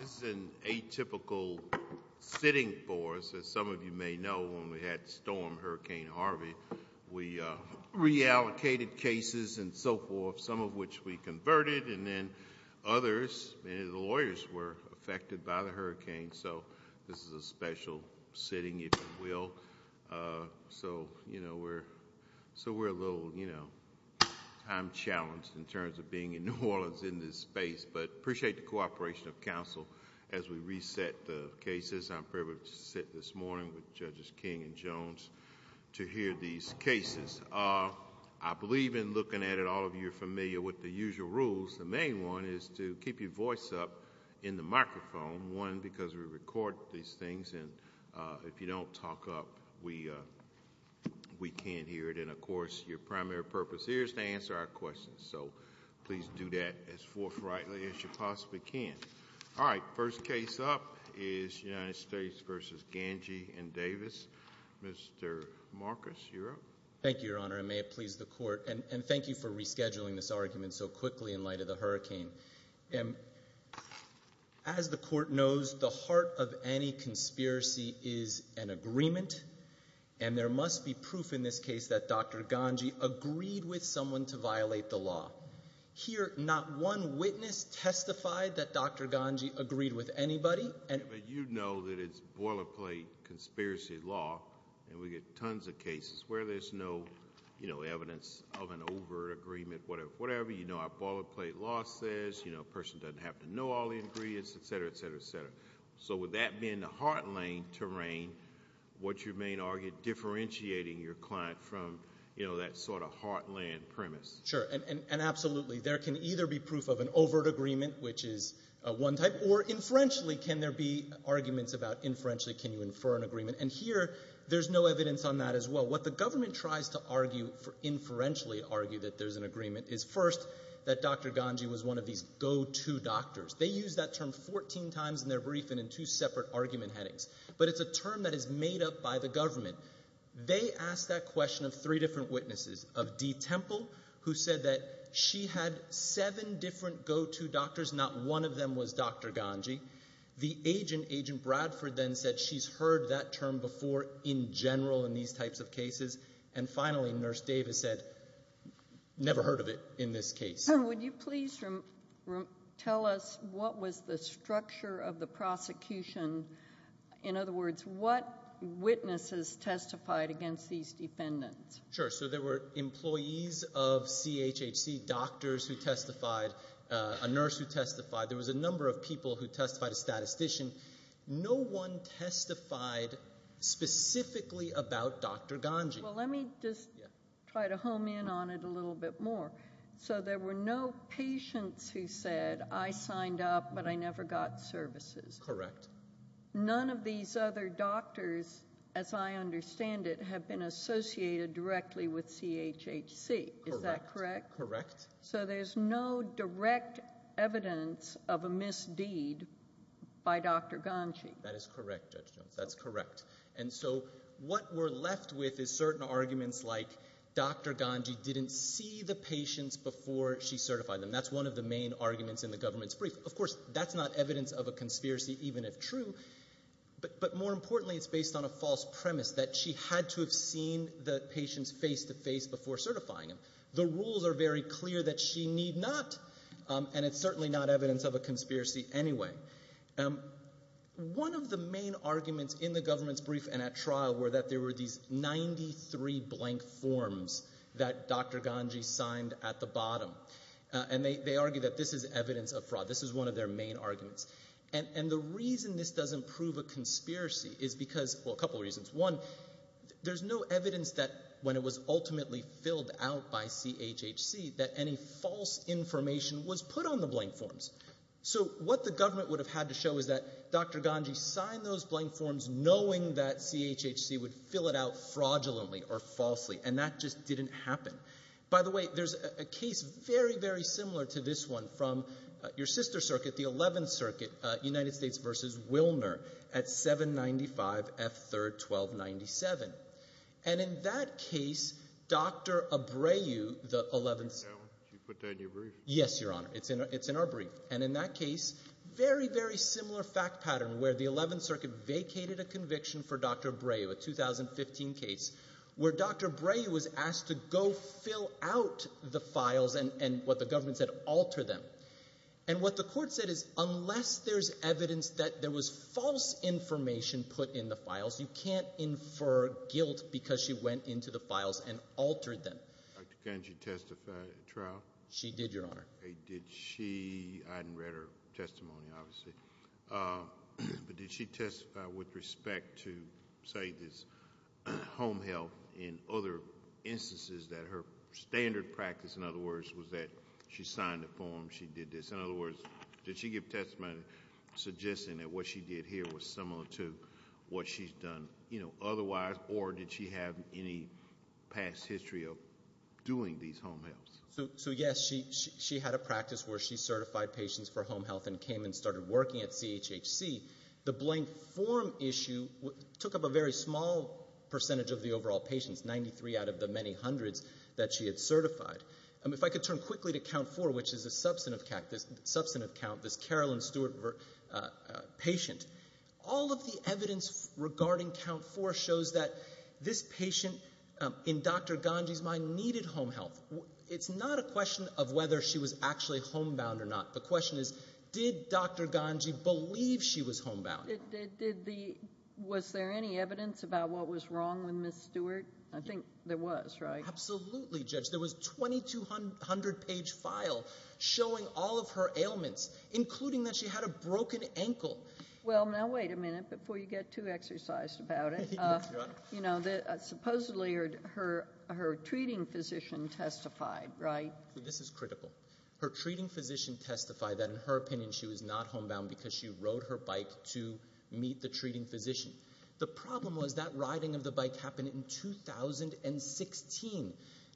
This is an atypical sitting for us, as some of you may know, when we had Storm Hurricane Harvey, we reallocated cases and so forth, some of which we converted, and then others, many of the lawyers were affected by the hurricane, so this is a special sitting, if you will. So we're a little time-challenged in terms of being in New Orleans in this space, but appreciate the cooperation of counsel as we reset the cases. I'm privileged to sit this morning with Judges King and Jones to hear these cases. I believe in looking at it, all of you are familiar with the usual rules. The main one is to keep your voice up in the microphone, one, because we record these things and if you don't talk up, we can't hear it, and, of course, your primary purpose here is to answer our questions, so please do that as forthrightly as you possibly can. All right, first case up is United States v. Ganji and Davis. Mr. Marcus, you're up. Thank you, Your Honor, and may it please the Court, and thank you for rescheduling this argument so quickly in light of the hurricane. As the Court knows, the heart of any conspiracy is an agreement, and there must be proof in this case that Dr. Ganji agreed with someone to violate the law. Here, not one witness testified that Dr. Ganji agreed with anybody. You know that it's boilerplate conspiracy law, and we get tons of cases where there's no evidence of an overt agreement, whatever. You know our boilerplate law says a person doesn't have to know all the ingredients, etc., etc., etc., so would that be in the heartland terrain, what you may argue differentiating your client from that sort of heartland premise? Sure, and absolutely. There can either be proof of an overt agreement, which is one type, or inferentially can there be arguments about inferentially can you infer an agreement, and here there's no evidence on that as well. What the government tries to inferentially argue that there's an agreement is, first, that Dr. Ganji was one of these go-to doctors. They use that term 14 times in their briefing in two separate argument headings, but it's a term that is made up by the government. They asked that question of three different witnesses, of Dee Temple, who said that she had seven different go-to doctors, not one of them was Dr. Ganji. The agent, Agent Bradford, then said she's heard that term before in general in these types of cases, and finally, Nurse Davis said, never heard of it in this case. Would you please tell us what was the structure of the prosecution? In other words, what witnesses testified against these defendants? Sure, so there were employees of CHHC, doctors who testified, a nurse who testified, there was a number of people who testified as statistician. No one testified specifically about Dr. Ganji. Well, let me just try to home in on it a little bit more. So there were no patients who said, I signed up, but I never got services? Correct. None of these other doctors, as I understand it, have been associated directly with CHHC. Correct. Is that correct? Correct. So there's no direct evidence of a misdeed by Dr. Ganji? That is correct, Judge Jones, that's correct. And so what we're left with is certain arguments like Dr. Ganji didn't see the patients before she certified them. That's one of the main arguments in the government's brief. Of course, that's not evidence of a conspiracy, even if true, but more importantly, it's based on a false premise that she had to have seen the patients face-to-face before certifying them. The rules are very clear that she need not, and it's certainly not evidence of a conspiracy anyway. One of the main arguments in the government's brief and at trial were that there were these 93 blank forms that Dr. Ganji signed at the bottom. And they argue that this is evidence of fraud. This is one of their main arguments. And the reason this doesn't prove a conspiracy is because, well, a couple of reasons. One, there's no evidence that when it was ultimately filled out by CHHC that any false information was put on the blank forms. So what the government would have had to show is that Dr. Ganji signed those blank forms knowing that CHHC would fill it out fraudulently or falsely, and that just didn't happen. By the way, there's a case very, very similar to this one from your sister circuit, the 11th Circuit, United States v. Wilner, at 795 F. 3rd 1297. And in that case, Dr. Abreu, the 11th — Did you put that in your brief? Yes, Your Honor. It's in our brief. And in that case, very, very similar fact pattern where the 11th Circuit vacated a conviction for Dr. Abreu, a 2015 case, where Dr. Abreu was asked to go fill out the files and, what the government said, alter them. And what the court said is, unless there's evidence that there was false information put in the files, you can't infer guilt because she went into the files and altered them. Did Dr. Ganji testify at trial? She did, Your Honor. Did she — I hadn't read her testimony, obviously — but did she testify with respect to, say, this home health and other instances that her standard practice, in other words, was that she signed a form, she did this. In other words, did she give testimony suggesting that what she did here was similar to what she's done, you know, otherwise? Or did she have any past history of doing these home healths? So yes, she had a practice where she certified patients for home health and came and started working at CHHC. The blank form issue took up a very small percentage of the overall patients, 93 out of the many hundreds that she had certified. If I could turn quickly to Count 4, which is a substantive count, this Carolyn Stewart patient, all of the evidence regarding Count 4 shows that this patient, in Dr. Ganji's mind, needed home health. It's not a question of whether she was actually homebound or not. The question is, did Dr. Ganji believe she was homebound? Was there any evidence about what was wrong with Ms. Stewart? I think there was, right? Absolutely, Judge. There was a 2,200-page file showing all of her ailments, including that she had a broken ankle. Well, now wait a minute before you get too exercised about it. Supposedly, her treating physician testified, right? This is critical. Her treating physician testified that, in her opinion, she was not homebound because she rode her bike to meet the treating physician. The problem was that riding of the bike happened in 2016.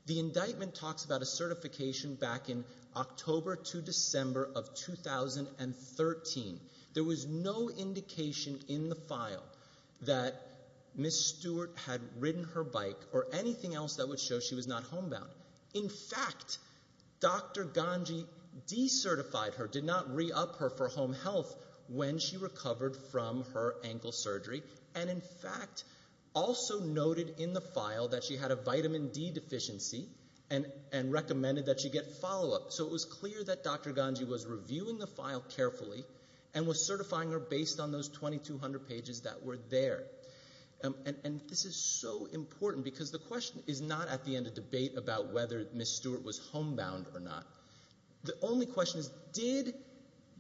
The indictment talks about a certification back in October to December of 2013. There was no indication in the file that Ms. Stewart had ridden her bike or anything else that would show she was not homebound. In fact, Dr. Ganji decertified her, did not re-up her for home health when she recovered from her ankle surgery, and in fact, also noted in the file that she had a vitamin D deficiency and recommended that she get follow-up. It was clear that Dr. Ganji was reviewing the file carefully and was certifying her based on those 2,200 pages that were there. This is so important because the question is not at the end of debate about whether Ms. Stewart was homebound or not. The only question is, did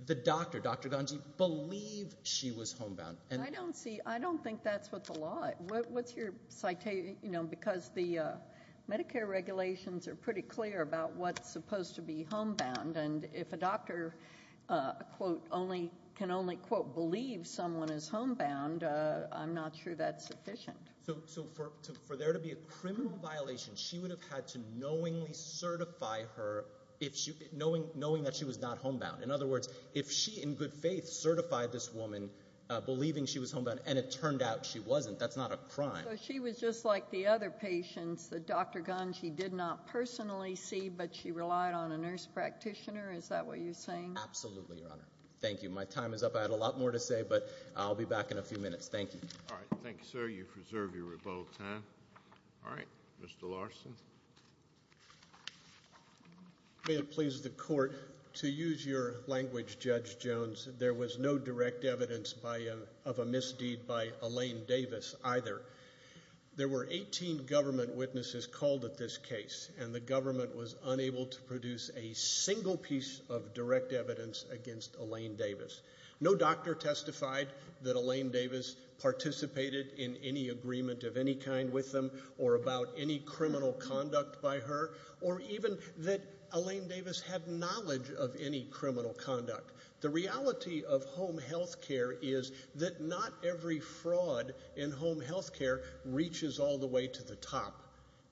the doctor, Dr. Ganji, believe she was homebound? I don't think that's what the law... What's your citation? Because the Medicare regulations are pretty clear about what's supposed to be homebound. If a doctor can only, quote, believe someone is homebound, I'm not sure that's sufficient. For there to be a criminal violation, she would have had to knowingly certify her knowing that she was not homebound. In other words, if she in good faith certified this woman believing she was homebound and it turned out she wasn't, that's not a crime. She was just like the other patients that Dr. Ganji did not personally see, but she relied on a nurse practitioner. Is that what you're saying? Absolutely, Your Honor. Thank you. My time is up. I had a lot more to say, but I'll be back in a few minutes. Thank you. All right. Thank you, sir. You've reserved your rebuttal time. All right. Mr. Larson. May it please the court, to use your language, Judge Jones, there was no direct evidence of a misdeed by Elaine Davis either. There were 18 government witnesses called at this case, and the government was unable to produce a single piece of direct evidence against Elaine Davis. No doctor testified that Elaine Davis participated in any agreement of any kind with them or about any criminal conduct by her, or even that Elaine Davis had knowledge of any criminal conduct. The reality of home health care is that not every fraud in home health care reaches all the way to the top.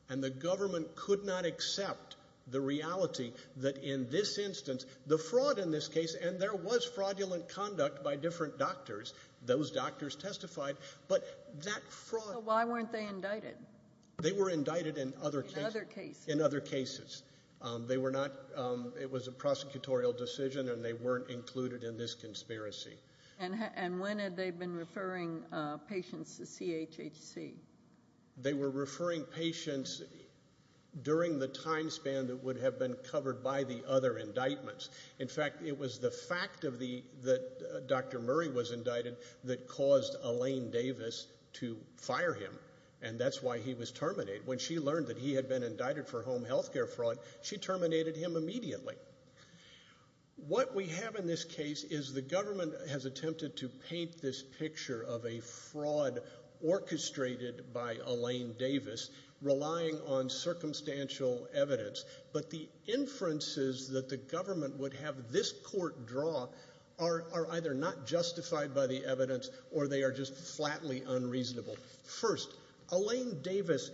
And the government could not accept the reality that in this instance, the fraud in this case, and there was fraudulent conduct by different doctors. Those doctors testified, but that fraud... So why weren't they indicted? They were indicted in other cases. In other cases? In other cases. They were not... It was a prosecutorial decision, and they weren't included in this conspiracy. And when had they been referring patients to CHHC? They were referring patients during the time span that would have been covered by the other indictments. In fact, it was the fact that Dr. Murray was indicted that caused Elaine Davis to fire him, and that's why he was terminated. When she learned that he had been indicted for home health care fraud, she terminated him immediately. What we have in this case is the government has attempted to paint this picture of a fraud orchestrated by Elaine Davis, relying on circumstantial evidence. But the inferences that the government would have this court draw are either not justified by the evidence, or they are just flatly unreasonable. First, Elaine Davis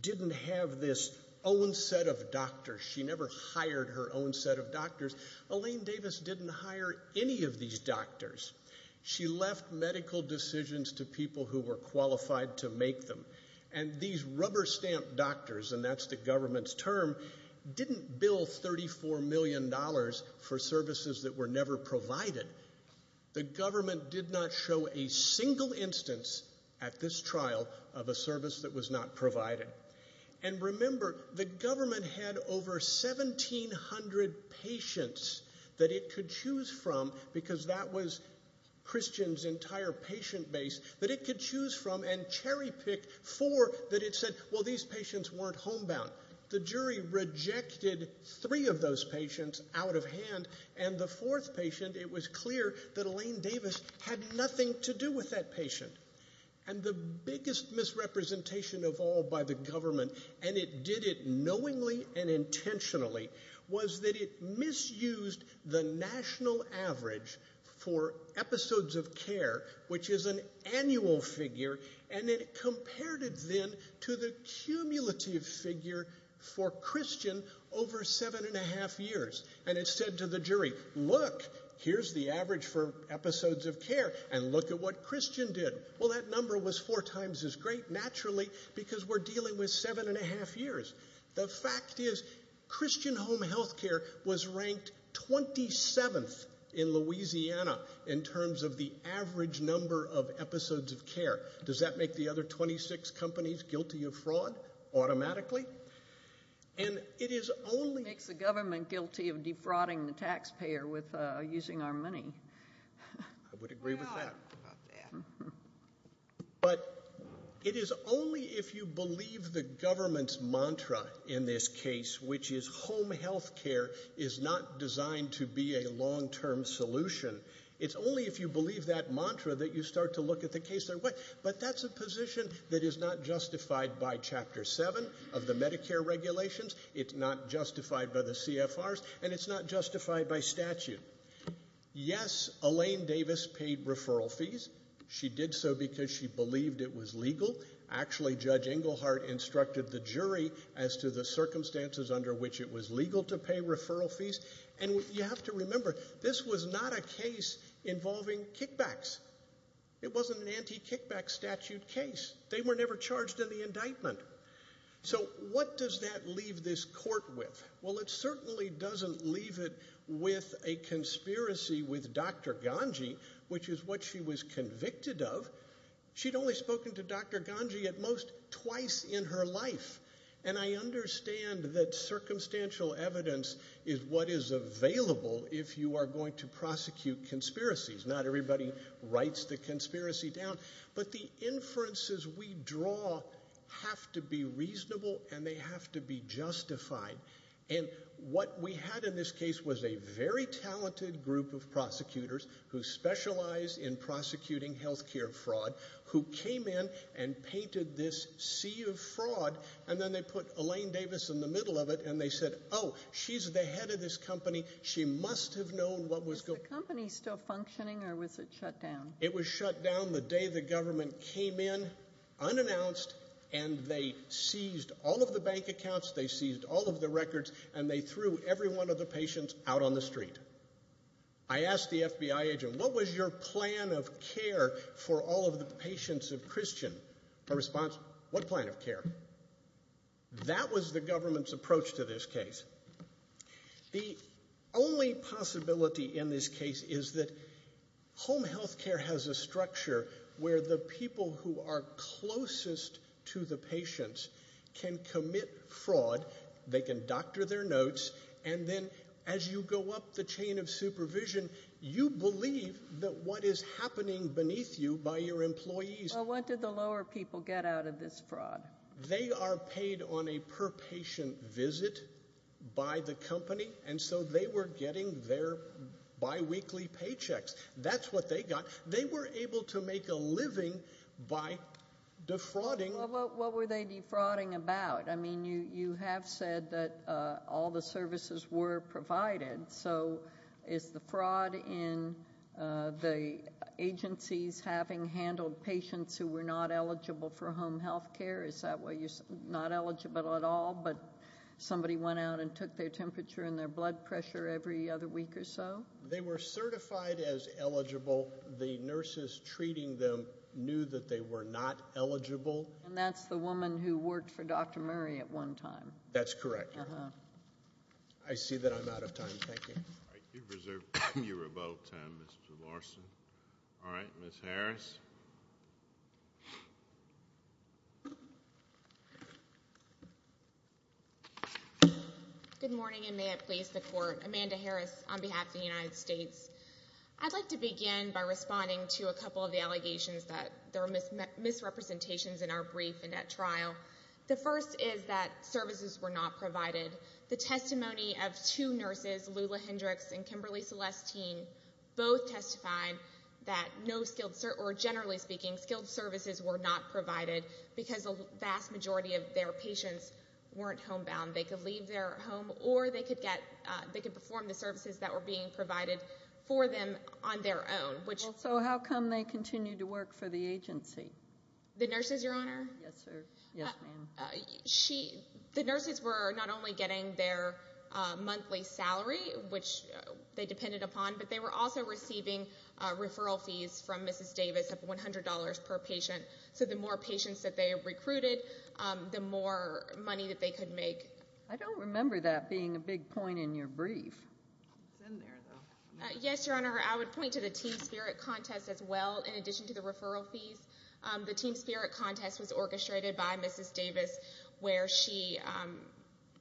didn't have this own set of doctors. She never hired her own set of doctors. Elaine Davis didn't hire any of these doctors. She left medical decisions to people who were qualified to make them. And these rubber stamp doctors, and that's the government's term, didn't bill $34 million for services that were never provided. The government did not show a single instance at this trial of a service that was not provided. And remember, the government had over 1,700 patients that it could choose from, because that was Christian's entire patient base, that it could choose from and cherry pick four that it said, well, these patients weren't homebound. The jury rejected three of those patients out of hand. And the fourth patient, it was clear that Elaine Davis had nothing to do with that patient. And the biggest misrepresentation of all by the government, and it did it knowingly and intentionally, was that it misused the national average for episodes of care, which is an accumulative figure for Christian over seven and a half years. And it said to the jury, look, here's the average for episodes of care, and look at what Christian did. Well, that number was four times as great, naturally, because we're dealing with seven and a half years. The fact is, Christian Home Healthcare was ranked 27th in Louisiana in terms of the average number of episodes of care. Does that make the other 26 companies guilty of fraud automatically? And it is only... It makes the government guilty of defrauding the taxpayer with using our money. I would agree with that. But it is only if you believe the government's mantra in this case, which is home healthcare is not designed to be a long-term solution, it's only if you believe that mantra that you start to look at the case that way. But that's a position that is not justified by Chapter 7 of the Medicare regulations. It's not justified by the CFRs, and it's not justified by statute. Yes, Elaine Davis paid referral fees. She did so because she believed it was legal. Actually, Judge Englehart instructed the jury as to the circumstances under which it was legal to pay referral fees. And you have to remember, this was not a case involving kickbacks. It wasn't an anti-kickback statute case. They were never charged in the indictment. So what does that leave this court with? Well, it certainly doesn't leave it with a conspiracy with Dr. Ganji, which is what she was convicted of. She'd only spoken to Dr. Ganji at most twice in her life. And I understand that circumstantial evidence is what is available if you are going to prosecute conspiracies. Not everybody writes the conspiracy down, but the inferences we draw have to be reasonable and they have to be justified. And what we had in this case was a very talented group of prosecutors who specialize in prosecuting health care fraud who came in and painted this sea of fraud and then they put Elaine Davis in the middle of it and they said, oh, she's the head of this company, she must have known what was going on. Was the company still functioning or was it shut down? It was shut down the day the government came in, unannounced, and they seized all of the bank accounts, they seized all of the records, and they threw every one of the patients out on the street. And I asked the FBI agent, what was your plan of care for all of the patients of Christian? Her response, what plan of care? That was the government's approach to this case. The only possibility in this case is that home health care has a structure where the people who are closest to the patients can commit fraud, they can doctor their notes, and then as you go up the chain of supervision, you believe that what is happening beneath you by your employees... What did the lower people get out of this fraud? They are paid on a per patient visit by the company, and so they were getting their biweekly paychecks. That's what they got. They were able to make a living by defrauding... What were they defrauding about? You have said that all the services were provided, so is the fraud in the agencies having handled patients who were not eligible for home health care? Is that why you're not eligible at all, but somebody went out and took their temperature and their blood pressure every other week or so? They were certified as eligible. The nurses treating them knew that they were not eligible. That's the woman who worked for Dr. Murray at one time. That's correct, Your Honor. I see that I'm out of time. Thank you. You reserved your rebuttal time, Mr. Larson. All right. Ms. Harris. Good morning, and may it please the Court. Amanda Harris on behalf of the United States. I'd like to begin by responding to a couple of the allegations that there are misrepresentations in our brief and at trial. The first is that services were not provided. The testimony of two nurses, Lula Hendricks and Kimberly Celestine, both testified that no skilled, or generally speaking, skilled services were not provided because the vast majority of their patients weren't homebound. They could leave their home or they could perform the services that were being provided for them on their own. So how come they continue to work for the agency? The nurses, Your Honor? Yes, sir. Yes, ma'am. The nurses were not only getting their monthly salary, which they depended upon, but they were also receiving referral fees from Mrs. Davis of $100 per patient. So the more patients that they recruited, the more money that they could make. I don't remember that being a big point in your brief. It's in there, though. Yes, Your Honor. I would point to the team spirit contest as well, in addition to the referral fees. The team spirit contest was orchestrated by Mrs. Davis, where she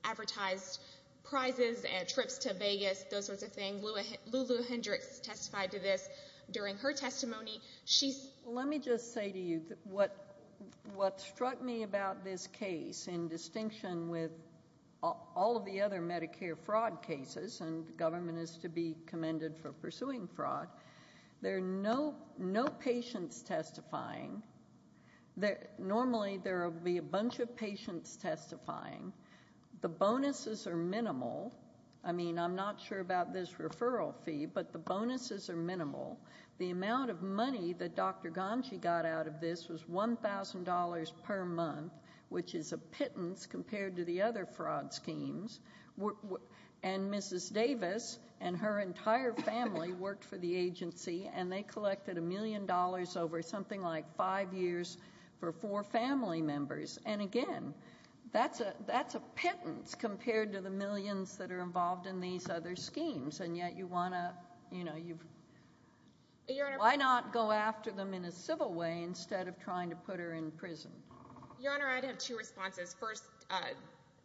advertised prizes and trips to Vegas, those sorts of things. Lula Hendricks testified to this during her testimony. Let me just say to you, what struck me about this case, in distinction with all of the other Medicare fraud cases, and the government is to be commended for pursuing fraud, there are no patients testifying. Normally there will be a bunch of patients testifying. The bonuses are minimal. I mean, I'm not sure about this referral fee, but the bonuses are minimal. The amount of money that Dr. Ganji got out of this was $1,000 per month, which is a pittance compared to the other fraud schemes. Mrs. Davis and her entire family worked for the agency, and they collected a million dollars over something like five years for four family members. Again, that's a pittance compared to the millions that are involved in these other schemes. Why not go after them in a civil way instead of trying to put her in prison? Your Honor, I'd have two responses. First,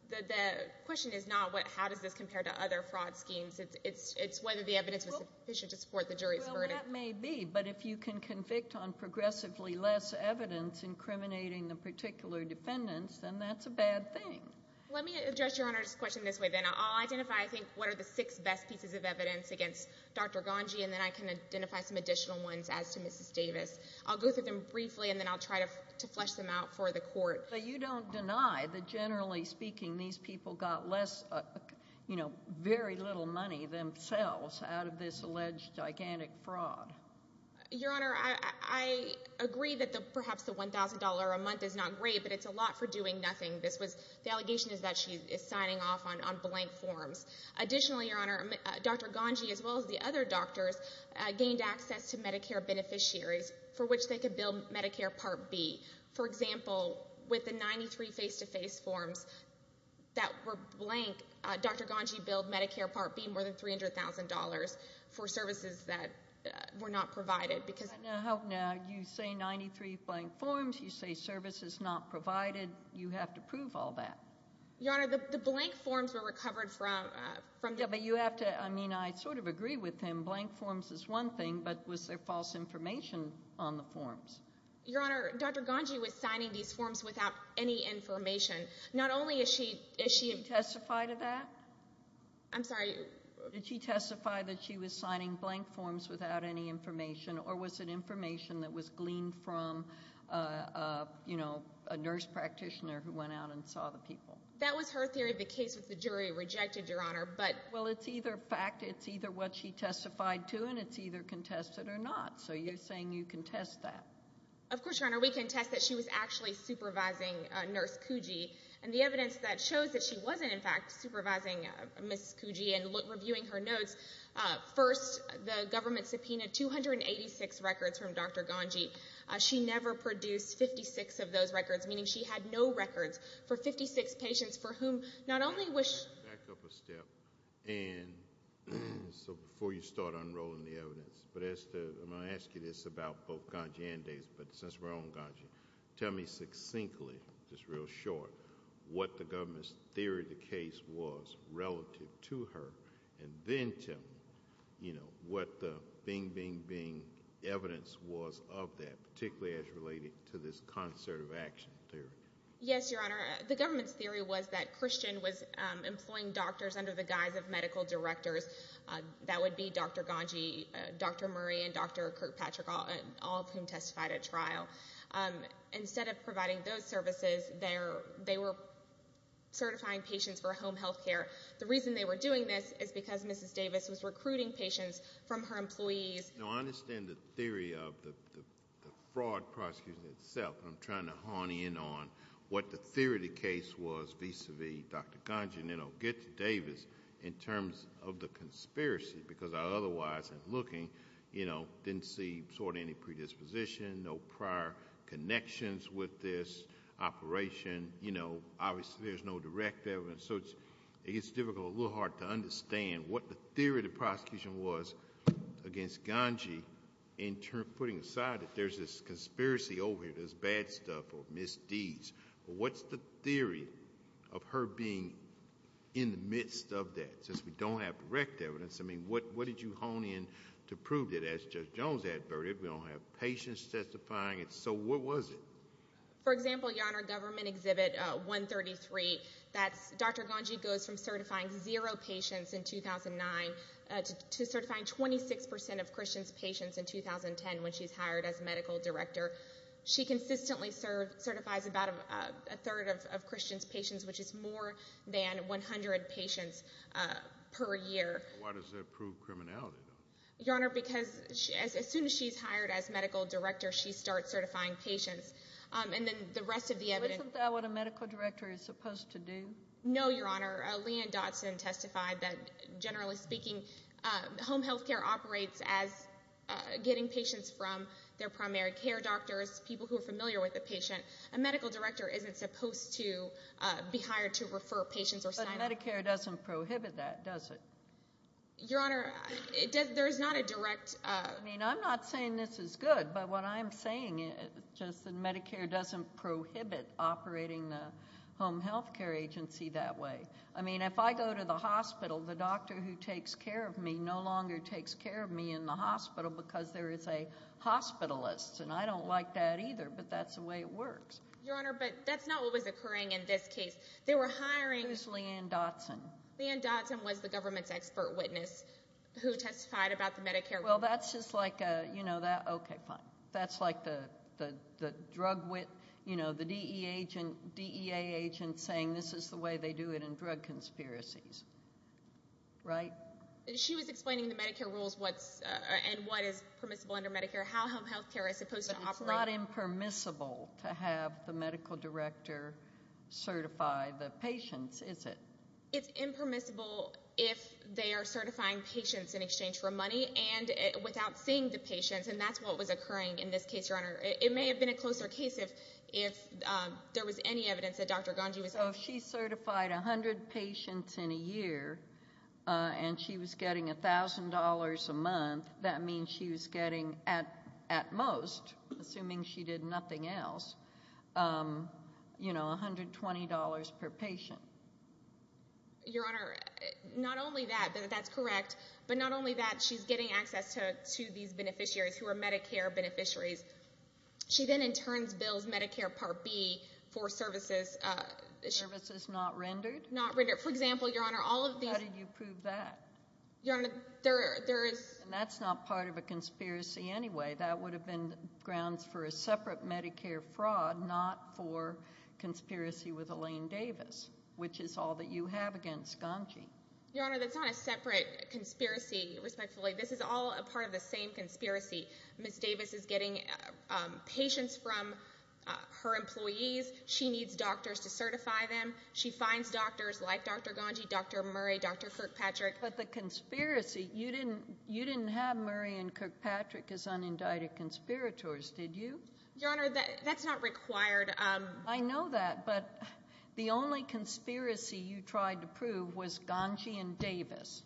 the question is not how does this compare to other fraud schemes. It's whether the evidence was sufficient to support the jury's verdict. Well, that may be, but if you can convict on progressively less evidence incriminating the particular defendants, then that's a bad thing. Let me address Your Honor's question this way, then. I'll identify, I think, what are the six best pieces of evidence against Dr. Ganji, and then I can identify some additional ones as to Mrs. Davis. I'll go through them briefly, and then I'll try to flesh them out for the Court. But you don't deny that, generally speaking, these people got less, you know, very little money themselves out of this alleged gigantic fraud? Your Honor, I agree that perhaps the $1,000 a month is not great, but it's a lot for doing nothing. The allegation is that she is signing off on blank forms. Additionally, Your Honor, Dr. Ganji, as well as the other doctors, gained access to Medicare beneficiaries for which they could bill Medicare Part B. For example, with the 93 face-to-face forms that were blank, Dr. Ganji billed Medicare Part B more than $300,000 for services that were not provided. Now, you say 93 blank forms, you say services not provided. You have to prove all that. Your Honor, the blank forms were recovered from the... Yeah, but you have to, I mean, I sort of agree with him. Blank forms is one thing, but was there false information on the forms? Your Honor, Dr. Ganji was signing these forms without any information. Not only is she... Did she testify to that? I'm sorry? Did she testify that she was signing blank forms without any information, or was it information that was gleaned from, you know, a nurse practitioner who went out and saw the people? That was her theory. The case with the jury rejected, Your Honor, but... Well, it's either fact, it's either what she testified to, and it's either contested or not. So, you're saying you contest that? Of course, Your Honor. We contest that she was actually supervising Nurse Kuji, and the evidence that shows that she wasn't, in fact, supervising Ms. Kuji and reviewing her notes, first, the government subpoenaed 286 records from Dr. Ganji. She never produced 56 of those records, meaning she had no records for 56 patients for whom not only... Back up a step, and so before you start unrolling the evidence, but as to, I'm going to ask you this about both Ganji and Davis, but since we're on Ganji, tell me succinctly, just real short, what the government's theory of the case was relative to her, and then tell me, you know, what the bing, bing, bing evidence was of that, particularly as related to this concert of action theory. Yes, Your Honor. The government's theory was that Christian was employing doctors under the guise of medical directors. That would be Dr. Ganji, Dr. Murray, and Dr. Kirkpatrick, all of whom testified at trial. Instead of providing those services, they were certifying patients for home health care. The reason they were doing this is because Mrs. Davis was recruiting patients from her employees. No, I understand the theory of the fraud prosecution itself, but I'm trying to hone in on what the theory of the case was vis-a-vis Dr. Ganji, and then I'll get to Davis in terms of the conspiracy, because I otherwise, in looking, didn't see sort of any predisposition, no prior connections with this operation. You know, obviously, there's no direct evidence, so it's difficult, a little hard to understand what the theory of the prosecution was against Ganji, putting aside that there's this conspiracy over here, there's bad stuff, or misdeeds. What's the theory of her being in the midst of that, since we don't have direct evidence? I mean, what did you hone in to prove that, as Judge Jones adverted, we don't have patients testifying, so what was it? For example, Your Honor, Government Exhibit 133, that's Dr. Ganji goes from certifying zero patients in 2009 to certifying 26% of Christian's patients in 2010, when she's hired as medical director. She consistently certifies about a third of Christian's patients, which is more than 100 patients per year. Why does that prove criminality, though? Your Honor, because as soon as she's hired as medical director, she starts certifying patients. And then the rest of the evidence Isn't that what a medical director is supposed to do? No, Your Honor. Leon Dodson testified that, generally speaking, home health care operates as getting patients from their primary care doctors, people who are familiar with the patient. A medical director isn't supposed to be hired to refer patients or sign up. But Medicare doesn't prohibit that, does it? Your Honor, there's not a direct... I mean, I'm not saying this is good, but what I'm saying is just that Medicare doesn't prohibit operating the home health care agency that way. I mean, if I go to the hospital, the doctor who takes care of me no longer takes care of me in the hospital because there is a hospitalist, and I don't like that either, but that's the way it works. Your Honor, but that's not what was occurring in this case. They were hiring... Who's Leon Dodson? Leon Dodson was the government's expert witness who testified about the Medicare rules. Well, that's just like a, you know, that, okay, fine. That's like the drug wit, you know, the DEA agent saying this is the way they do it in drug conspiracies, right? She was explaining the Medicare rules and what is permissible under Medicare, how home health care is supposed to operate. But it's not impermissible to have the medical director certify the patients, is it? It's impermissible if they are certifying patients in exchange for money and without seeing the patients, and that's what was occurring in this case, Your Honor. It may have been a closer case if there was any evidence that Dr. Gangi was... So if she certified 100 patients in a year and she was getting $1,000 a month, that means she was getting, at most, assuming she did nothing else, you know, $120 per patient. Your Honor, not only that, that's correct, but not only that, she's getting access to these beneficiaries who are Medicare beneficiaries. She then, in turn, bills Medicare Part B for services... Services not rendered? Not rendered. For example, Your Honor, all of these... How did you prove that? Your Honor, there is... That's not part of a conspiracy anyway. That would have been grounds for a separate Medicare fraud, not for conspiracy with Elaine Davis, which is all that you have against Gangi. Your Honor, that's not a separate conspiracy, respectfully. This is all a part of the same conspiracy. Ms. Davis is getting patients from her employees. She needs doctors to certify them. She finds doctors like Dr. Gangi, Dr. Murray, Dr. Kirkpatrick. But the conspiracy, you didn't have Murray and Kirkpatrick as unindicted conspirators, did you? Your Honor, that's not required. I know that, but the only conspiracy you tried to prove was Gangi and Davis.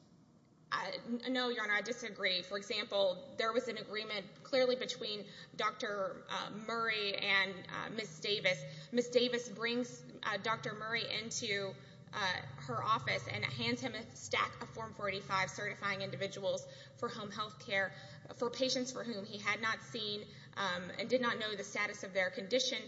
No, Your Honor, I disagree. For example, there was an agreement clearly between Dr. Murray and Ms. Davis. Ms. Davis brings Dr. Murray into her office and hands him a stack of Form 485 certifying individuals for home health care for patients for whom he had not seen and did not know the status of their condition.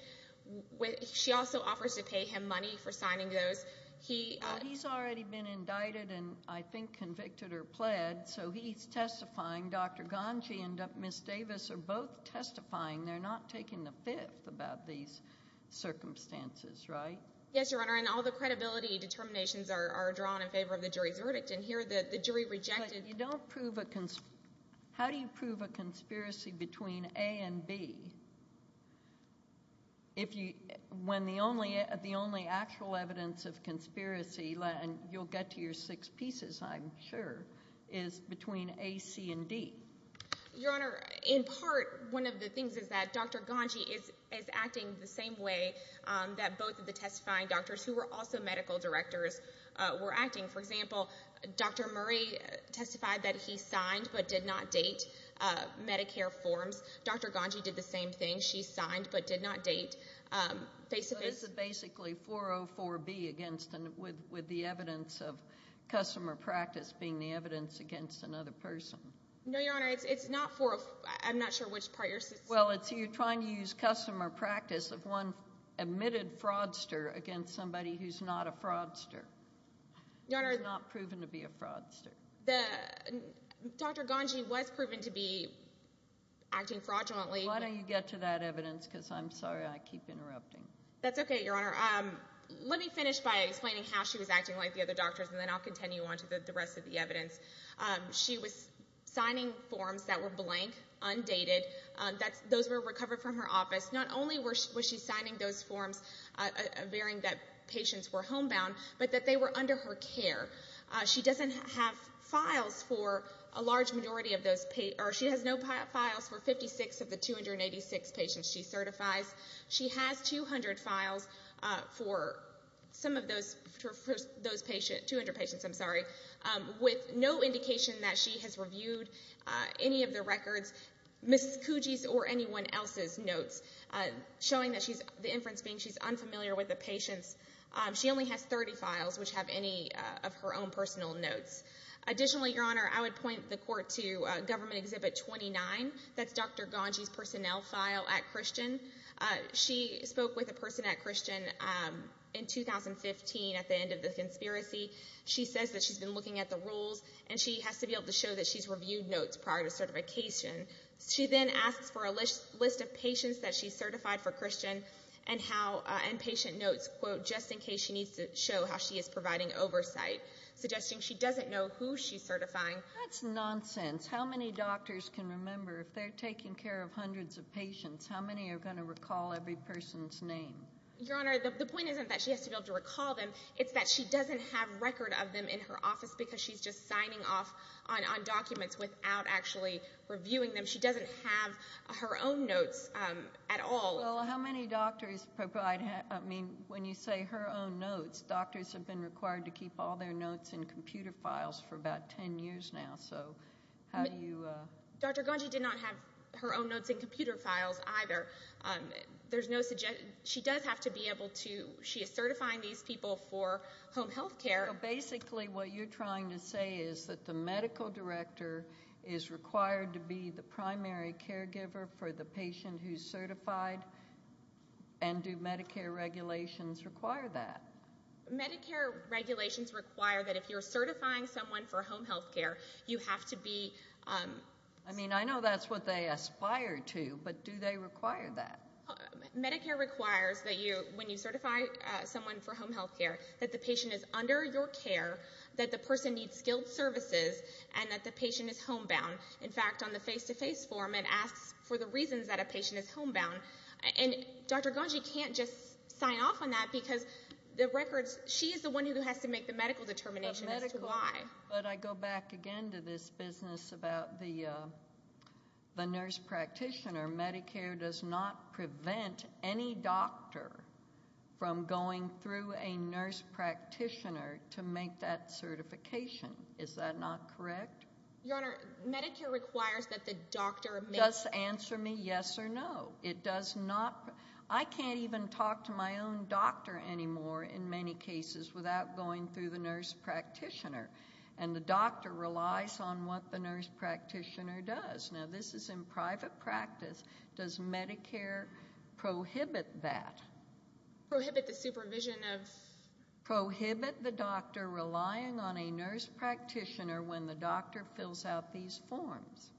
She also offers to pay him money for signing those. He's already been indicted and I think convicted or pled, so he's testifying. Dr. Gangi and Ms. Davis are both testifying. They're not taking the fifth about these circumstances, right? Yes, Your Honor, and all the credibility determinations are drawn in favor of the jury's verdict. And here, the jury rejected— But you don't prove a—how do you prove a conspiracy between A and B if you—when the only actual evidence of conspiracy—and you'll get to your six pieces, I'm sure—is between A, C, and D? Your Honor, in part, one of the things is that Dr. Gangi is acting the same way that both of the testifying doctors, who were also medical directors, were acting. For example, Dr. Murray testified that he signed but did not date Medicare forms. Dr. Gangi did the same thing. She signed but did not date Facebook— So this is basically 404B against—with the evidence of customer practice being the evidence against another person. No, Your Honor, it's not 404—I'm not sure which part you're— Well, it's you trying to use customer practice of one admitted fraudster against somebody who's not a fraudster. Your Honor— Who's not proven to be a fraudster. The—Dr. Gangi was proven to be acting fraudulently. Why don't you get to that evidence, because I'm sorry I keep interrupting. That's okay, Your Honor. Let me finish by explaining how she was acting like the other doctors, and then I'll continue on to the rest of the evidence. She was signing forms that were blank, undated. Those were recovered from her office. Not only was she signing those forms, bearing that patients were homebound, but that they were under her care. She doesn't have files for a large majority of those—or, she has no files for 56 of the 286 patients she certifies. She has 200 files for some of those patients—200 patients, I'm sorry—with no indication that she has reviewed any of the records, Mrs. Coogee's or anyone else's notes, showing that she's—the inference being she's unfamiliar with the patients. She only has 30 files, which have any of her own personal notes. Additionally, Your Honor, I would point the Court to Government Exhibit 29. That's Dr. Ganji's personnel file at Christian. She spoke with a person at Christian in 2015 at the end of the conspiracy. She says that she's been looking at the rules, and she has to be able to show that she's reviewed notes prior to certification. She then asks for a list of patients that she's certified for Christian and how—and patient notes, quote, just in case she needs to show how she is providing oversight, suggesting she doesn't know who she's certifying. That's nonsense. How many doctors can remember, if they're taking care of hundreds of patients, how many are going to recall every person's name? Your Honor, the point isn't that she has to be able to recall them. It's that she doesn't have record of them in her office because she's just signing off on documents without actually reviewing them. She doesn't have her own notes at all. Well, how many doctors provide—I mean, when you say her own notes, doctors have been required to keep all their notes in computer files for about 10 years now. So how do you— Dr. Ganji did not have her own notes in computer files, either. There's no—she does have to be able to—she is certifying these people for home health care. So basically what you're trying to say is that the medical director is required to be the primary caregiver for the patient who's certified, and do Medicare regulations require that? Medicare regulations require that if you're certifying someone for home health care, you have to be— I mean, I know that's what they aspire to, but do they require that? Medicare requires that when you certify someone for home health care, that the patient is under your care, that the person needs skilled services, and that the patient is homebound. In fact, on the face-to-face form, it asks for the reasons that a patient is homebound. And Dr. Ganji can't just sign off on that because the records—she is the one who has to make the medical determination as to why. But I go back again to this business about the nurse practitioner. Medicare does not prevent any doctor from going through a nurse practitioner to make that certification. Is that not correct? Your Honor, Medicare requires that the doctor— Does answer me yes or no. It does not—I can't even talk to my own doctor anymore, in many cases, without going through the nurse practitioner. And the doctor relies on what the nurse practitioner does. Now, this is in private practice. Does Medicare prohibit that? Prohibit the supervision of— Prohibit the doctor relying on a nurse practitioner when the doctor fills out these forms.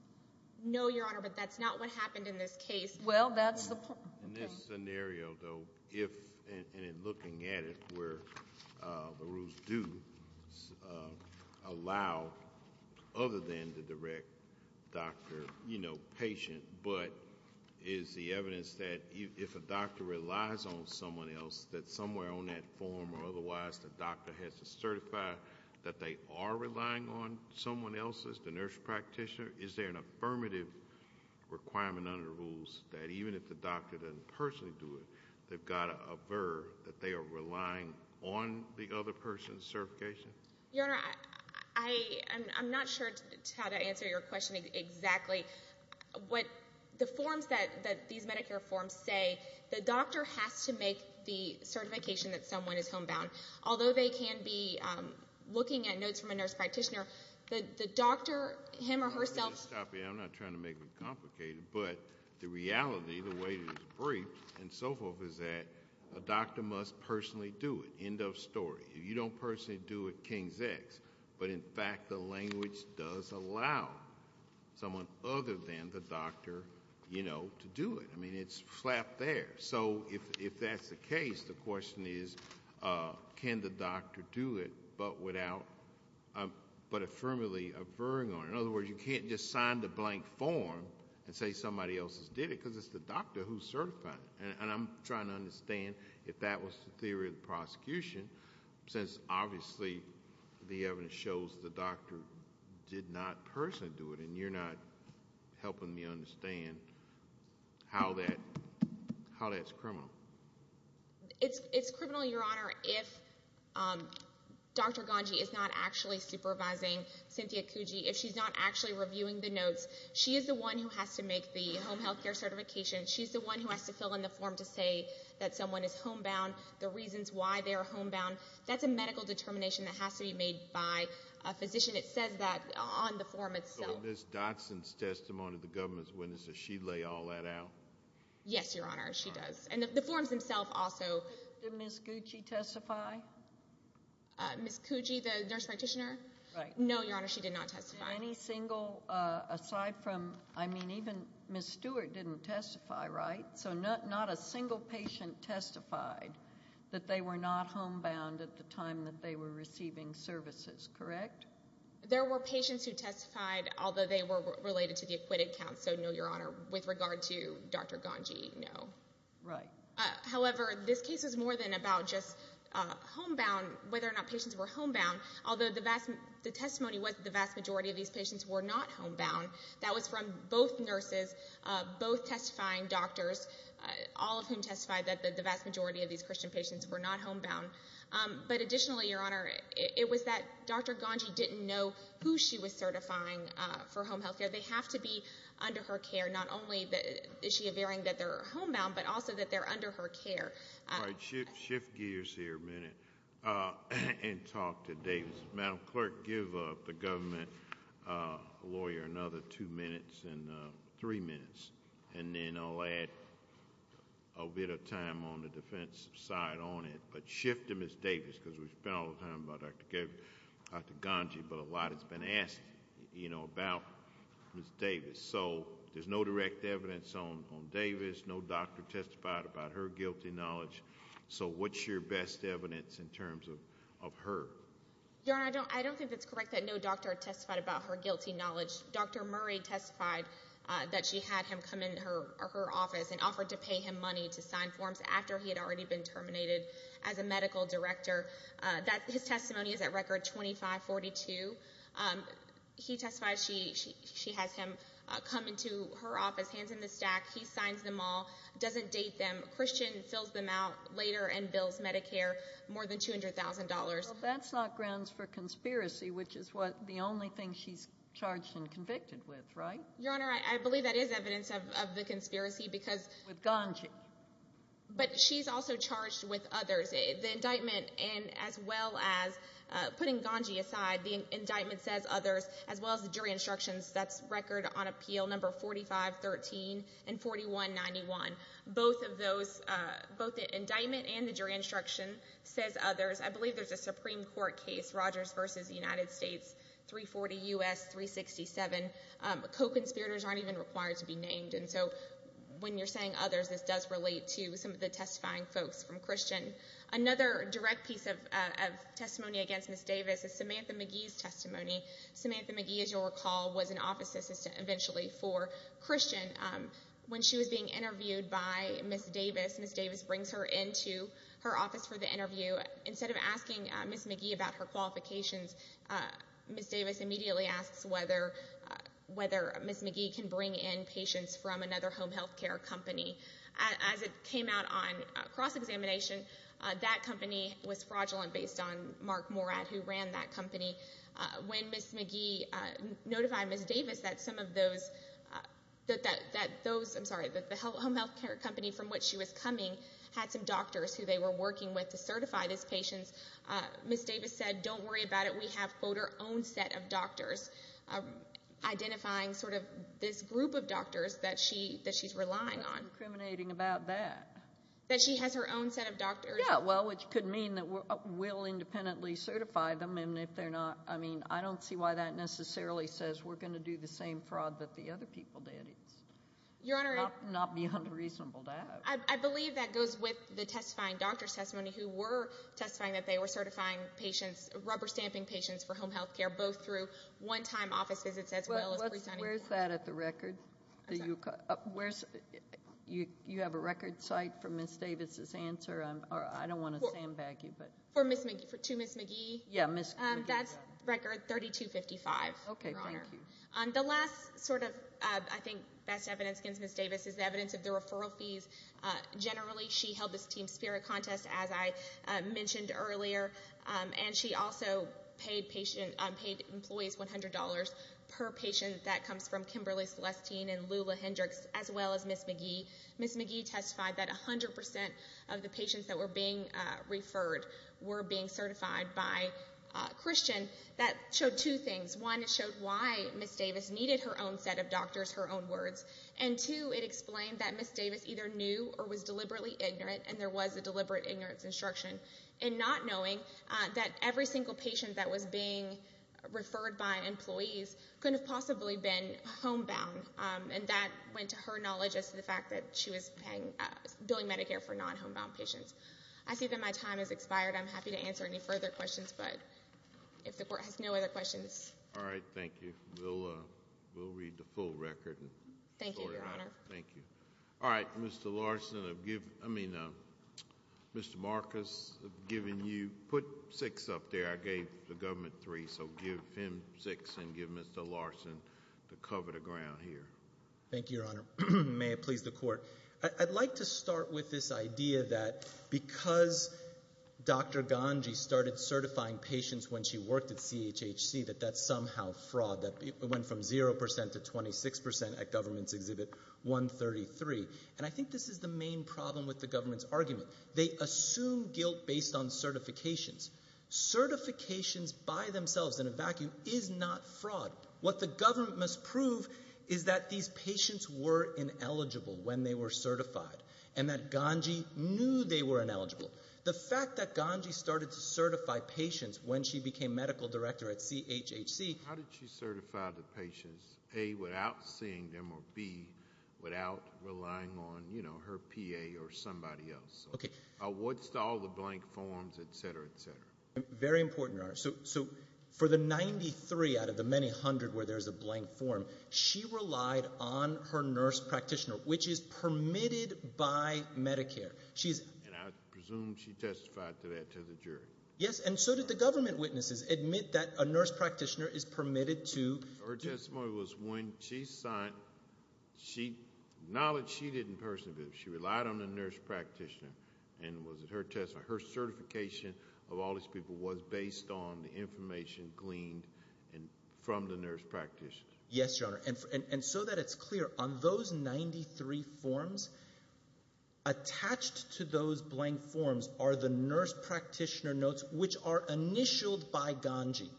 No, Your Honor, but that's not what happened in this case. Well, that's the point. In this scenario, though, if—and in looking at it where the rules do allow, other than the direct doctor, you know, patient, but is the evidence that if a doctor relies on someone else, that somewhere on that form or otherwise the doctor has to certify that they are relying on someone else as the nurse practitioner, is there an affirmative requirement under the rules that even if the doctor doesn't personally do it, they've got to aver that they are relying on the other person's certification? Your Honor, I'm not sure how to answer your question exactly. What the forms that—these Medicare forms say, the doctor has to make the certification that someone is homebound. Although they can be looking at notes from a nurse practitioner, the doctor, him or herself— I'm not trying to make it complicated, but the reality, the way it is briefed and so forth is that a doctor must personally do it. End of story. If you don't personally do it, king's X. But in fact, the language does allow someone other than the doctor, you know, to do it. I mean, it's flat there. So if that's the case, the question is, can the doctor do it but without—but affirmatively averring on it? In other words, you can't just sign the blank form and say somebody else did it because it's the doctor who's certifying it. And I'm trying to understand if that was the theory of the prosecution, since obviously the evidence shows the doctor did not personally do it, and you're not helping me understand how that's criminal. It's criminal, Your Honor, if Dr. Gangi is not actually supervising Cynthia Coogee. If she's not actually reviewing the notes, she is the one who has to make the home health care certification. She's the one who has to fill in the form to say that someone is homebound, the reasons why they are homebound. That's a medical determination that has to be made by a physician. It says that on the form itself. So Ms. Dotson's testimony, the government's witness, does she lay all that out? Yes, Your Honor, she does. And the forms themselves also— Did Ms. Coogee testify? Ms. Coogee, the nurse practitioner? Right. No, Your Honor, she did not testify. Any single—aside from—I mean, even Ms. Stewart didn't testify, right? So not a single patient testified that they were not homebound at the time that they were receiving services, correct? There were patients who testified, although they were related to the acquitted counts, so no, Your Honor, with regard to Dr. Gangi, no. Right. However, this case is more than about just homebound, whether or not patients were homebound. Although the testimony was that the vast majority of these patients were not homebound. That was from both nurses, both testifying doctors, all of whom testified that the vast majority of these Christian patients were not homebound. But additionally, Your Honor, it was that Dr. Gangi didn't know who she was certifying for home healthcare. They have to be under her care. Not only is she averting that they're homebound, but also that they're under her care. All right, shift gears here a minute and talk to Davis. Madam Clerk, give the government lawyer another two minutes and three minutes, and then I'll add a bit of time on the defense side on it. But shift to Ms. Davis, because we've spent all the time about Dr. Gangi, but a lot has been said about her. So there's no direct evidence on Davis, no doctor testified about her guilty knowledge. So what's your best evidence in terms of her? Your Honor, I don't think it's correct that no doctor testified about her guilty knowledge. Dr. Murray testified that she had him come into her office and offered to pay him money to sign forms after he had already been terminated as a medical director. His testimony is at record 2542. He testified she has him come into her office, hands him the stack, he signs them all, doesn't date them. Christian fills them out later and bills Medicare more than $200,000. That's not grounds for conspiracy, which is what the only thing she's charged and convicted with, right? Your Honor, I believe that is evidence of the conspiracy, because... With Gangi. But she's also charged with others. The indictment, and as well as, putting Gangi aside, the indictment says others, as well as the jury instructions, that's record on appeal number 4513 and 4191. Both of those, both the indictment and the jury instruction says others. I believe there's a Supreme Court case, Rogers v. United States, 340 U.S., 367. Co-conspirators aren't even required to be named, and so when you're saying others, this does relate to some of the testifying folks from Christian. Another direct piece of testimony against Ms. Davis is Samantha McGee's testimony. Samantha McGee, as you'll recall, was an office assistant, eventually, for Christian. When she was being interviewed by Ms. Davis, Ms. Davis brings her into her office for the interview. Instead of asking Ms. McGee about her qualifications, Ms. Davis immediately asks whether Ms. McGee can bring in patients from another home health care company. As it came out on cross-examination, that company was fraudulent based on Mark Morad, who ran that company. When Ms. McGee notified Ms. Davis that some of those, that those, I'm sorry, the home health care company from which she was coming had some doctors who they were working with to certify these patients, Ms. Davis said, don't worry about it. We have her own set of doctors, identifying sort of this group of doctors that she, that she's relying on. That's what's incriminating about that. That she has her own set of doctors. Yeah, well, which could mean that we'll independently certify them, and if they're not, I mean, I don't see why that necessarily says we're going to do the same fraud that the other people did. It's not beyond reasonable to ask. I believe that goes with the testifying doctor's testimony who were testifying that they were certifying patients, rubber-stamping patients for home health care, both through one-time office visits as well as pre-signing patients. Where's that at the record? I'm sorry. Where's, you have a record site for Ms. Davis's answer? I don't want to sandbag you, but. For Ms. McGee, for two Ms. McGee? Yeah, Ms. McGee. That's record 3255, Your Honor. Okay, thank you. The last sort of, I think, best evidence against Ms. Davis is the evidence of the referral fees. Generally, she held this team spirit contest, as I mentioned earlier, and she also paid employees $100 per patient. That comes from Kimberly Celestine and Lula Hendricks as well as Ms. McGee. Ms. McGee testified that 100% of the patients that were being referred were being certified by Christian. That showed two things. One, it showed why Ms. Davis needed her own set of doctors, her own words, and two, it showed that Ms. Davis either knew or was deliberately ignorant, and there was a deliberate ignorance instruction, and not knowing that every single patient that was being referred by employees could have possibly been homebound, and that went to her knowledge as to the fact that she was paying, billing Medicare for non-homebound patients. I see that my time has expired. I'm happy to answer any further questions, but if the Court has no other questions. All right. Thank you. We'll read the full record. Thank you, Your Honor. Thank you. All right. Mr. Larson, I've given, I mean, Mr. Marcus, I've given you, put six up there. I gave the government three, so give him six and give Mr. Larson to cover the ground here. Thank you, Your Honor. May it please the Court. I'd like to start with this idea that because Dr. Ganji started certifying patients when she worked at CHHC, that that's somehow fraud, that it went from 0% to 26% at government's review of three. And I think this is the main problem with the government's argument. They assume guilt based on certifications. Certifications by themselves in a vacuum is not fraud. What the government must prove is that these patients were ineligible when they were certified, and that Ganji knew they were ineligible. The fact that Ganji started to certify patients when she became medical director at CHHC... I'm not relying on, you know, her PA or somebody else. Okay. What's all the blank forms, et cetera, et cetera? Very important, Your Honor. So for the 93 out of the many hundred where there's a blank form, she relied on her nurse practitioner, which is permitted by Medicare. She's... And I presume she testified to that to the jury. Yes, and so did the government witnesses admit that a nurse practitioner is permitted to... Her testimony was when she signed, knowledge she didn't personally believe. She relied on the nurse practitioner, and was it her test... Her certification of all these people was based on the information gleaned from the nurse practitioner. Yes, Your Honor, and so that it's clear, on those 93 forms, attached to those blank forms are the nurse practitioner notes, which are initialed by Ganji.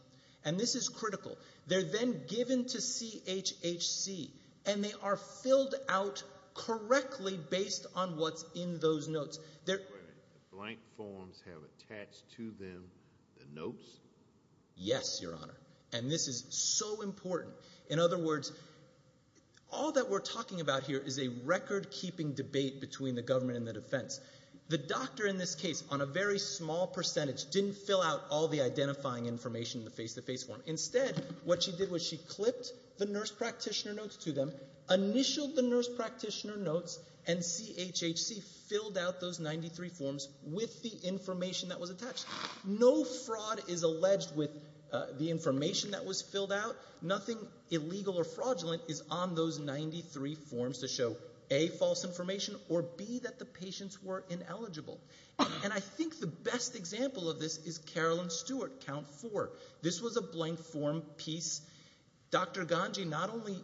And this is critical. They're then given to CHHC, and they are filled out correctly based on what's in those notes. They're... Wait a minute. The blank forms have attached to them the notes? Yes, Your Honor, and this is so important. In other words, all that we're talking about here is a record-keeping debate between the government and the defense. The doctor in this case, on a very small percentage, didn't fill out all the identifying information in the face-to-face form. Instead, what she did was she clipped the nurse practitioner notes to them, initialed the nurse practitioner notes, and CHHC filled out those 93 forms with the information that was attached. No fraud is alleged with the information that was filled out. Nothing illegal or fraudulent is on those 93 forms to show, A, false information, or B, that the patients were ineligible. And I think the best example of this is Carolyn Stewart, count four. This was a blank form piece. Dr. Ganji, not only,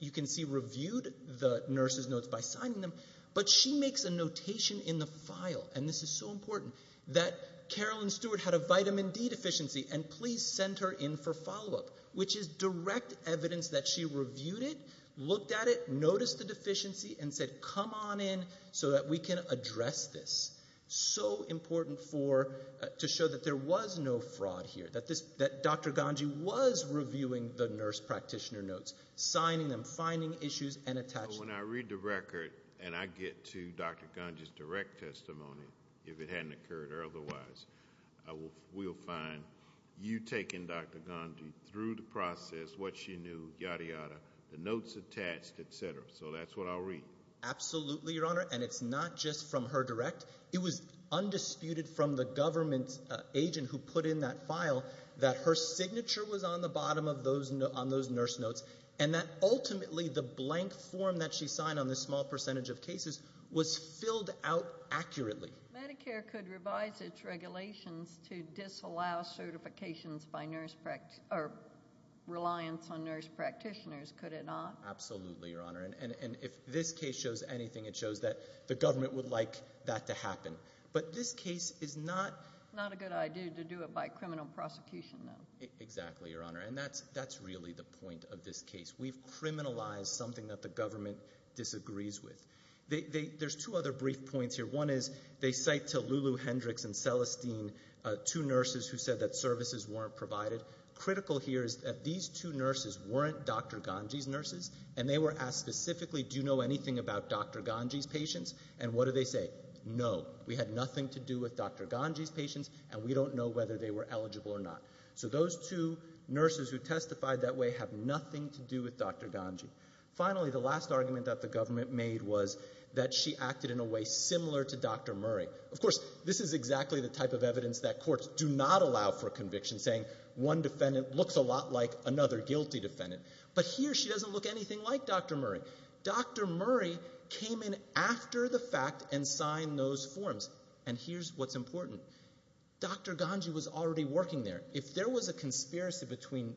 you can see, reviewed the nurse's notes by signing them, but she makes a notation in the file, and this is so important, that Carolyn Stewart had a vitamin D deficiency, and please send her in for follow-up, which is direct evidence that she reviewed it, looked at it, noticed the deficiency, and said, come on in so that we can address this. So important to show that there was no fraud here, that Dr. Ganji was reviewing the nurse practitioner notes, signing them, finding issues, and attaching them. So when I read the record and I get to Dr. Ganji's direct testimony, if it hadn't occurred or otherwise, we'll find you taking Dr. Ganji through the process, what she knew, yada yada, the notes attached, et cetera. So that's what I'll read. Absolutely, Your Honor, and it's not just from her direct. It was undisputed from the government agent who put in that file that her signature was on the bottom of those, on those nurse notes, and that ultimately the blank form that she signed on this small percentage of cases was filled out accurately. Medicare could revise its regulations to disallow certifications by nurse, or reliance on nurse practitioners, could it not? Absolutely, Your Honor, and if this case shows anything, it shows that the government would like that to happen. But this case is not... Not a good idea to do it by criminal prosecution, though. Exactly, Your Honor, and that's really the point of this case. We've criminalized something that the government disagrees with. There's two other brief points here. One is they cite to Lulu Hendricks and Celestine, two nurses who said that services weren't provided. Critical here is that these two nurses weren't Dr. Ganji's nurses, and they were asked specifically, do you know anything about Dr. Ganji's patients? And what do they say? No, we had nothing to do with Dr. Ganji's patients, and we don't know whether they were eligible or not. So those two nurses who testified that way have nothing to do with Dr. Ganji. Finally, the last argument that the government made was that she acted in a way similar to Dr. Murray. Of course, this is exactly the type of evidence that courts do not allow for conviction, saying one defendant looks a lot like another guilty defendant. But here, she doesn't look anything like Dr. Murray. Dr. Murray came in after the fact and signed those forms, and here's what's important. Dr. Ganji was already working there. If there was a conspiracy between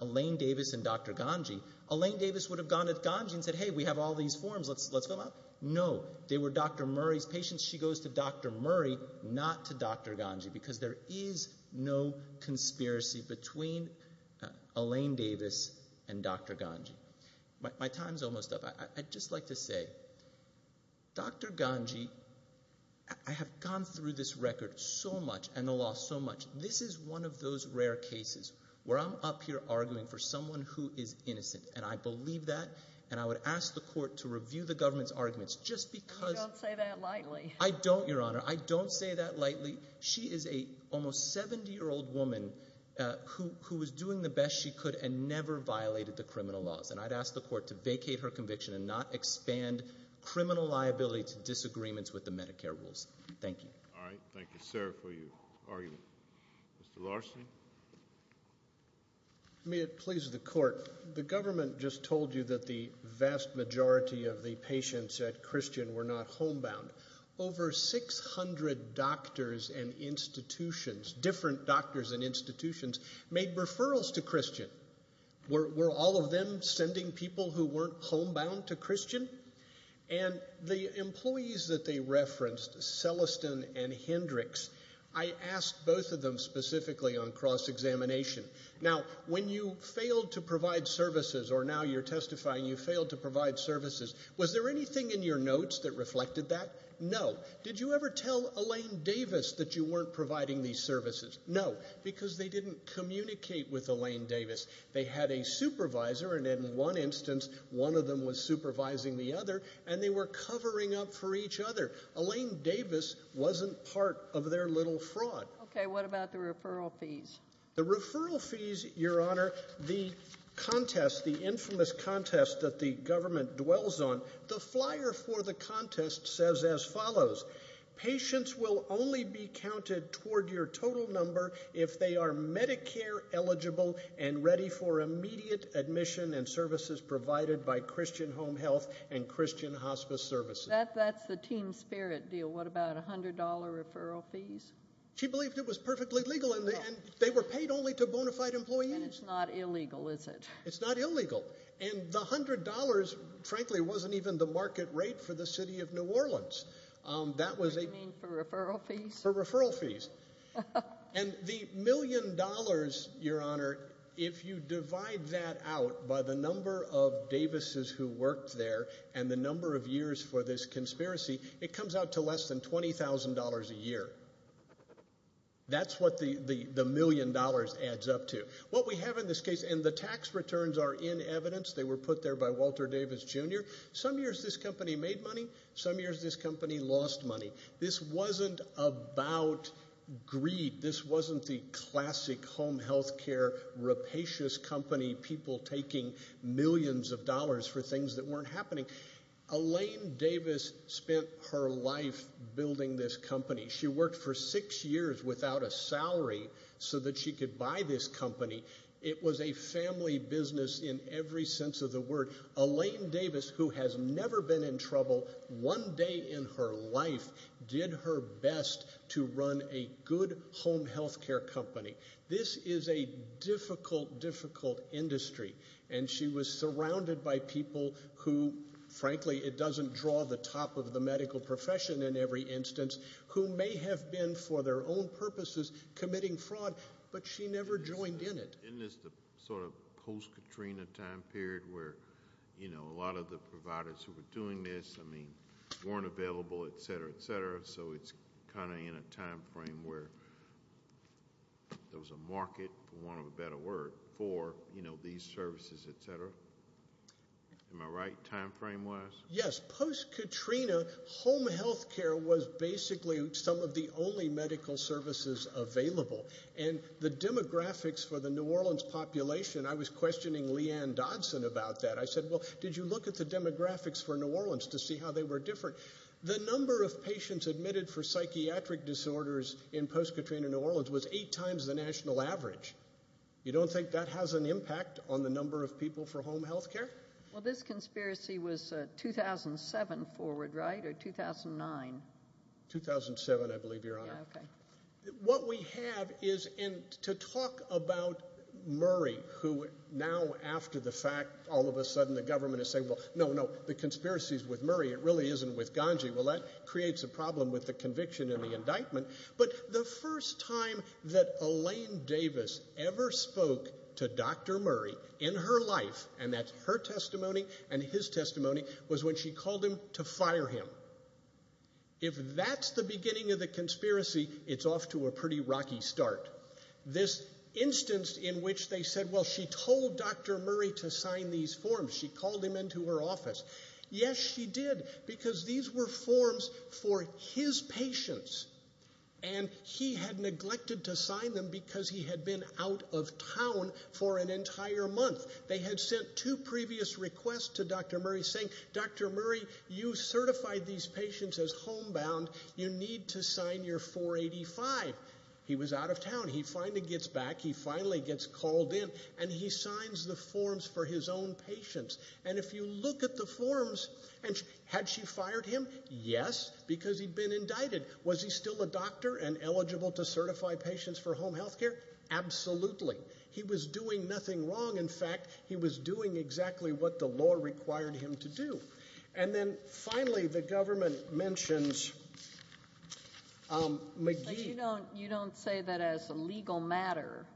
Elaine Davis and Dr. Ganji, Elaine Davis would have gone to Ganji and said, hey, we have all these forms. Let's fill them out. No, they were Dr. Murray's patients. She goes to Dr. Murray, not to Dr. Ganji, because there is no conspiracy between Elaine Davis and Dr. Ganji. My time's almost up. I'd just like to say, Dr. Ganji, I have gone through this record so much and the law so much. This is one of those rare cases where I'm up here arguing for someone who is innocent, and I believe that, and I would ask the court to review the government's arguments just because... You don't say that lightly. I don't, Your Honor. I don't say that lightly. She is an almost 70-year-old woman who was doing the best she could and never violated the criminal laws, and I'd ask the court to vacate her conviction and not expand criminal liability to disagreements with the Medicare rules. Thank you. All right. Thank you, sir, for your argument. Mr. Larsen? May it please the court, the government just told you that the vast majority of the patients at Christian were not homebound. Over 600 doctors and institutions, different doctors and institutions, made referrals to Christian. Were all of them sending people who weren't homebound to Christian? And the employees that they referenced, Celestin and Hendricks, I asked both of them specifically on cross-examination. Now, when you failed to provide services, or now you're testifying you failed to provide services, was there anything in your notes that reflected that? No. Did you ever tell Elaine Davis that you weren't providing these services? No, because they didn't communicate with Elaine Davis. They had a supervisor, and in one instance, one of them was supervising the other, and they were covering up for each other. Elaine Davis wasn't part of their little fraud. Okay. What about the referral fees? The referral fees, Your Honor, the contest, the infamous contest that the government dwells on, the flyer for the contest says as follows, patients will only be counted toward your total number if they are Medicare eligible and ready for immediate admission and services provided by Christian Home Health and Christian Hospice Services. That's the team spirit deal. What about $100 referral fees? She believed it was perfectly legal, and they were paid only to bona fide employees. And it's not illegal, is it? It's not illegal. And the $100, frankly, wasn't even the market rate for the city of New Orleans. That was a... You mean for referral fees? For referral fees. And the million dollars, Your Honor, if you divide that out by the number of Davises who worked there and the number of years for this conspiracy, it comes out to less than $20,000 a year. That's what the million dollars adds up to. What we have in this case, and the tax returns are in evidence. They were put there by Walter Davis, Jr. Some years this company made money. Some years this company lost money. This wasn't about greed. This wasn't the classic home health care rapacious company, people taking millions of dollars for things that weren't happening. Elaine Davis spent her life building this company. She worked for six years without a salary so that she could buy this company. It was a family business in every sense of the word. Elaine Davis, who has never been in trouble, one day in her life did her best to run a good home health care company. This is a difficult, difficult industry. And she was surrounded by people who, frankly, it doesn't draw the top of the medical profession in every instance, who may have been, for their own purposes, committing fraud, but she never joined in it. Isn't this the sort of post-Katrina time period where a lot of the providers who were doing this weren't available, etc., etc., so it's kind of in a time frame where there was a market, for want of a better word, for these services, etc.? Am I right, time frame-wise? Yes. Post-Katrina, home health care was basically some of the only medical services available. And the demographics for the New Orleans population, I was questioning Leanne Dodson about that. I said, well, did you look at the demographics for New Orleans to see how they were different? The number of patients admitted for psychiatric disorders in post-Katrina New Orleans was eight times the national average. You don't think that has an impact on the number of people for home health care? Well, this conspiracy was 2007 forward, right, or 2009? 2007, I believe, Your Honor. Yeah, okay. What we have is, and to talk about Murray, who now, after the fact, all of a sudden the government is saying, well, no, no, the conspiracy is with Murray, it really isn't with Ganji, well, that creates a problem with the conviction and the indictment. But the first time that Elaine Davis ever spoke to Dr. Murray in her life, and that's her testimony and his testimony, was when she called him to fire him. If that's the beginning of the conspiracy, it's off to a pretty rocky start. This instance in which they said, well, she told Dr. Murray to sign these forms. She called him into her office. Yes, she did, because these were forms for his patients. And he had neglected to sign them because he had been out of town for an entire month. They had sent two previous requests to Dr. Murray saying, Dr. Murray, you certified these patients as homebound. You need to sign your 485. He was out of town. He finally gets back. He finally gets called in, and he signs the forms for his own patients. And if you look at the forms, and had she fired him? Yes, because he'd been indicted. Was he still a doctor and eligible to certify patients for home health care? Absolutely. He was doing nothing wrong. In fact, he was doing exactly what the law required him to do. And then, finally, the government mentions McGee. But you don't say that as a legal matter,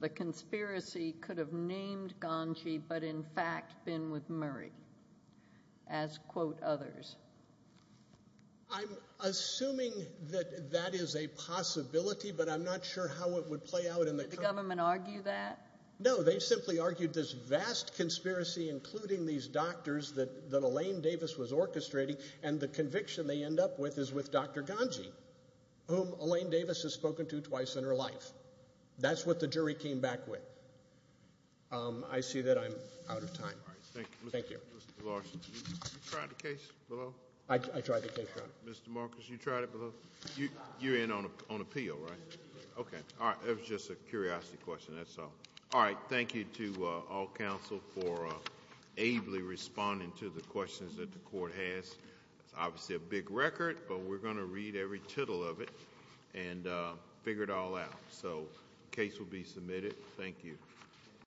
the conspiracy could have named Ganji, but in fact been with Murray, as, quote, others. I'm assuming that that is a possibility, but I'm not sure how it would play out. Did the government argue that? No, they simply argued this vast conspiracy, including these doctors that Elaine Davis was orchestrating, and the conviction they end up with is with Dr. Ganji, whom Elaine Davis has spoken to twice in her life. That's what the jury came back with. I see that I'm out of time. Thank you. Mr. Larson, you tried the case below? I tried the case. Mr. Marcus, you tried it below? You're in on appeal, right? Okay. All right, it was just a curiosity question, that's all. All right, thank you to all counsel for ably responding to the questions that the court has. It's obviously a big record, but we're going to read every tittle of it and figure it all out. So the case will be submitted. Thank you.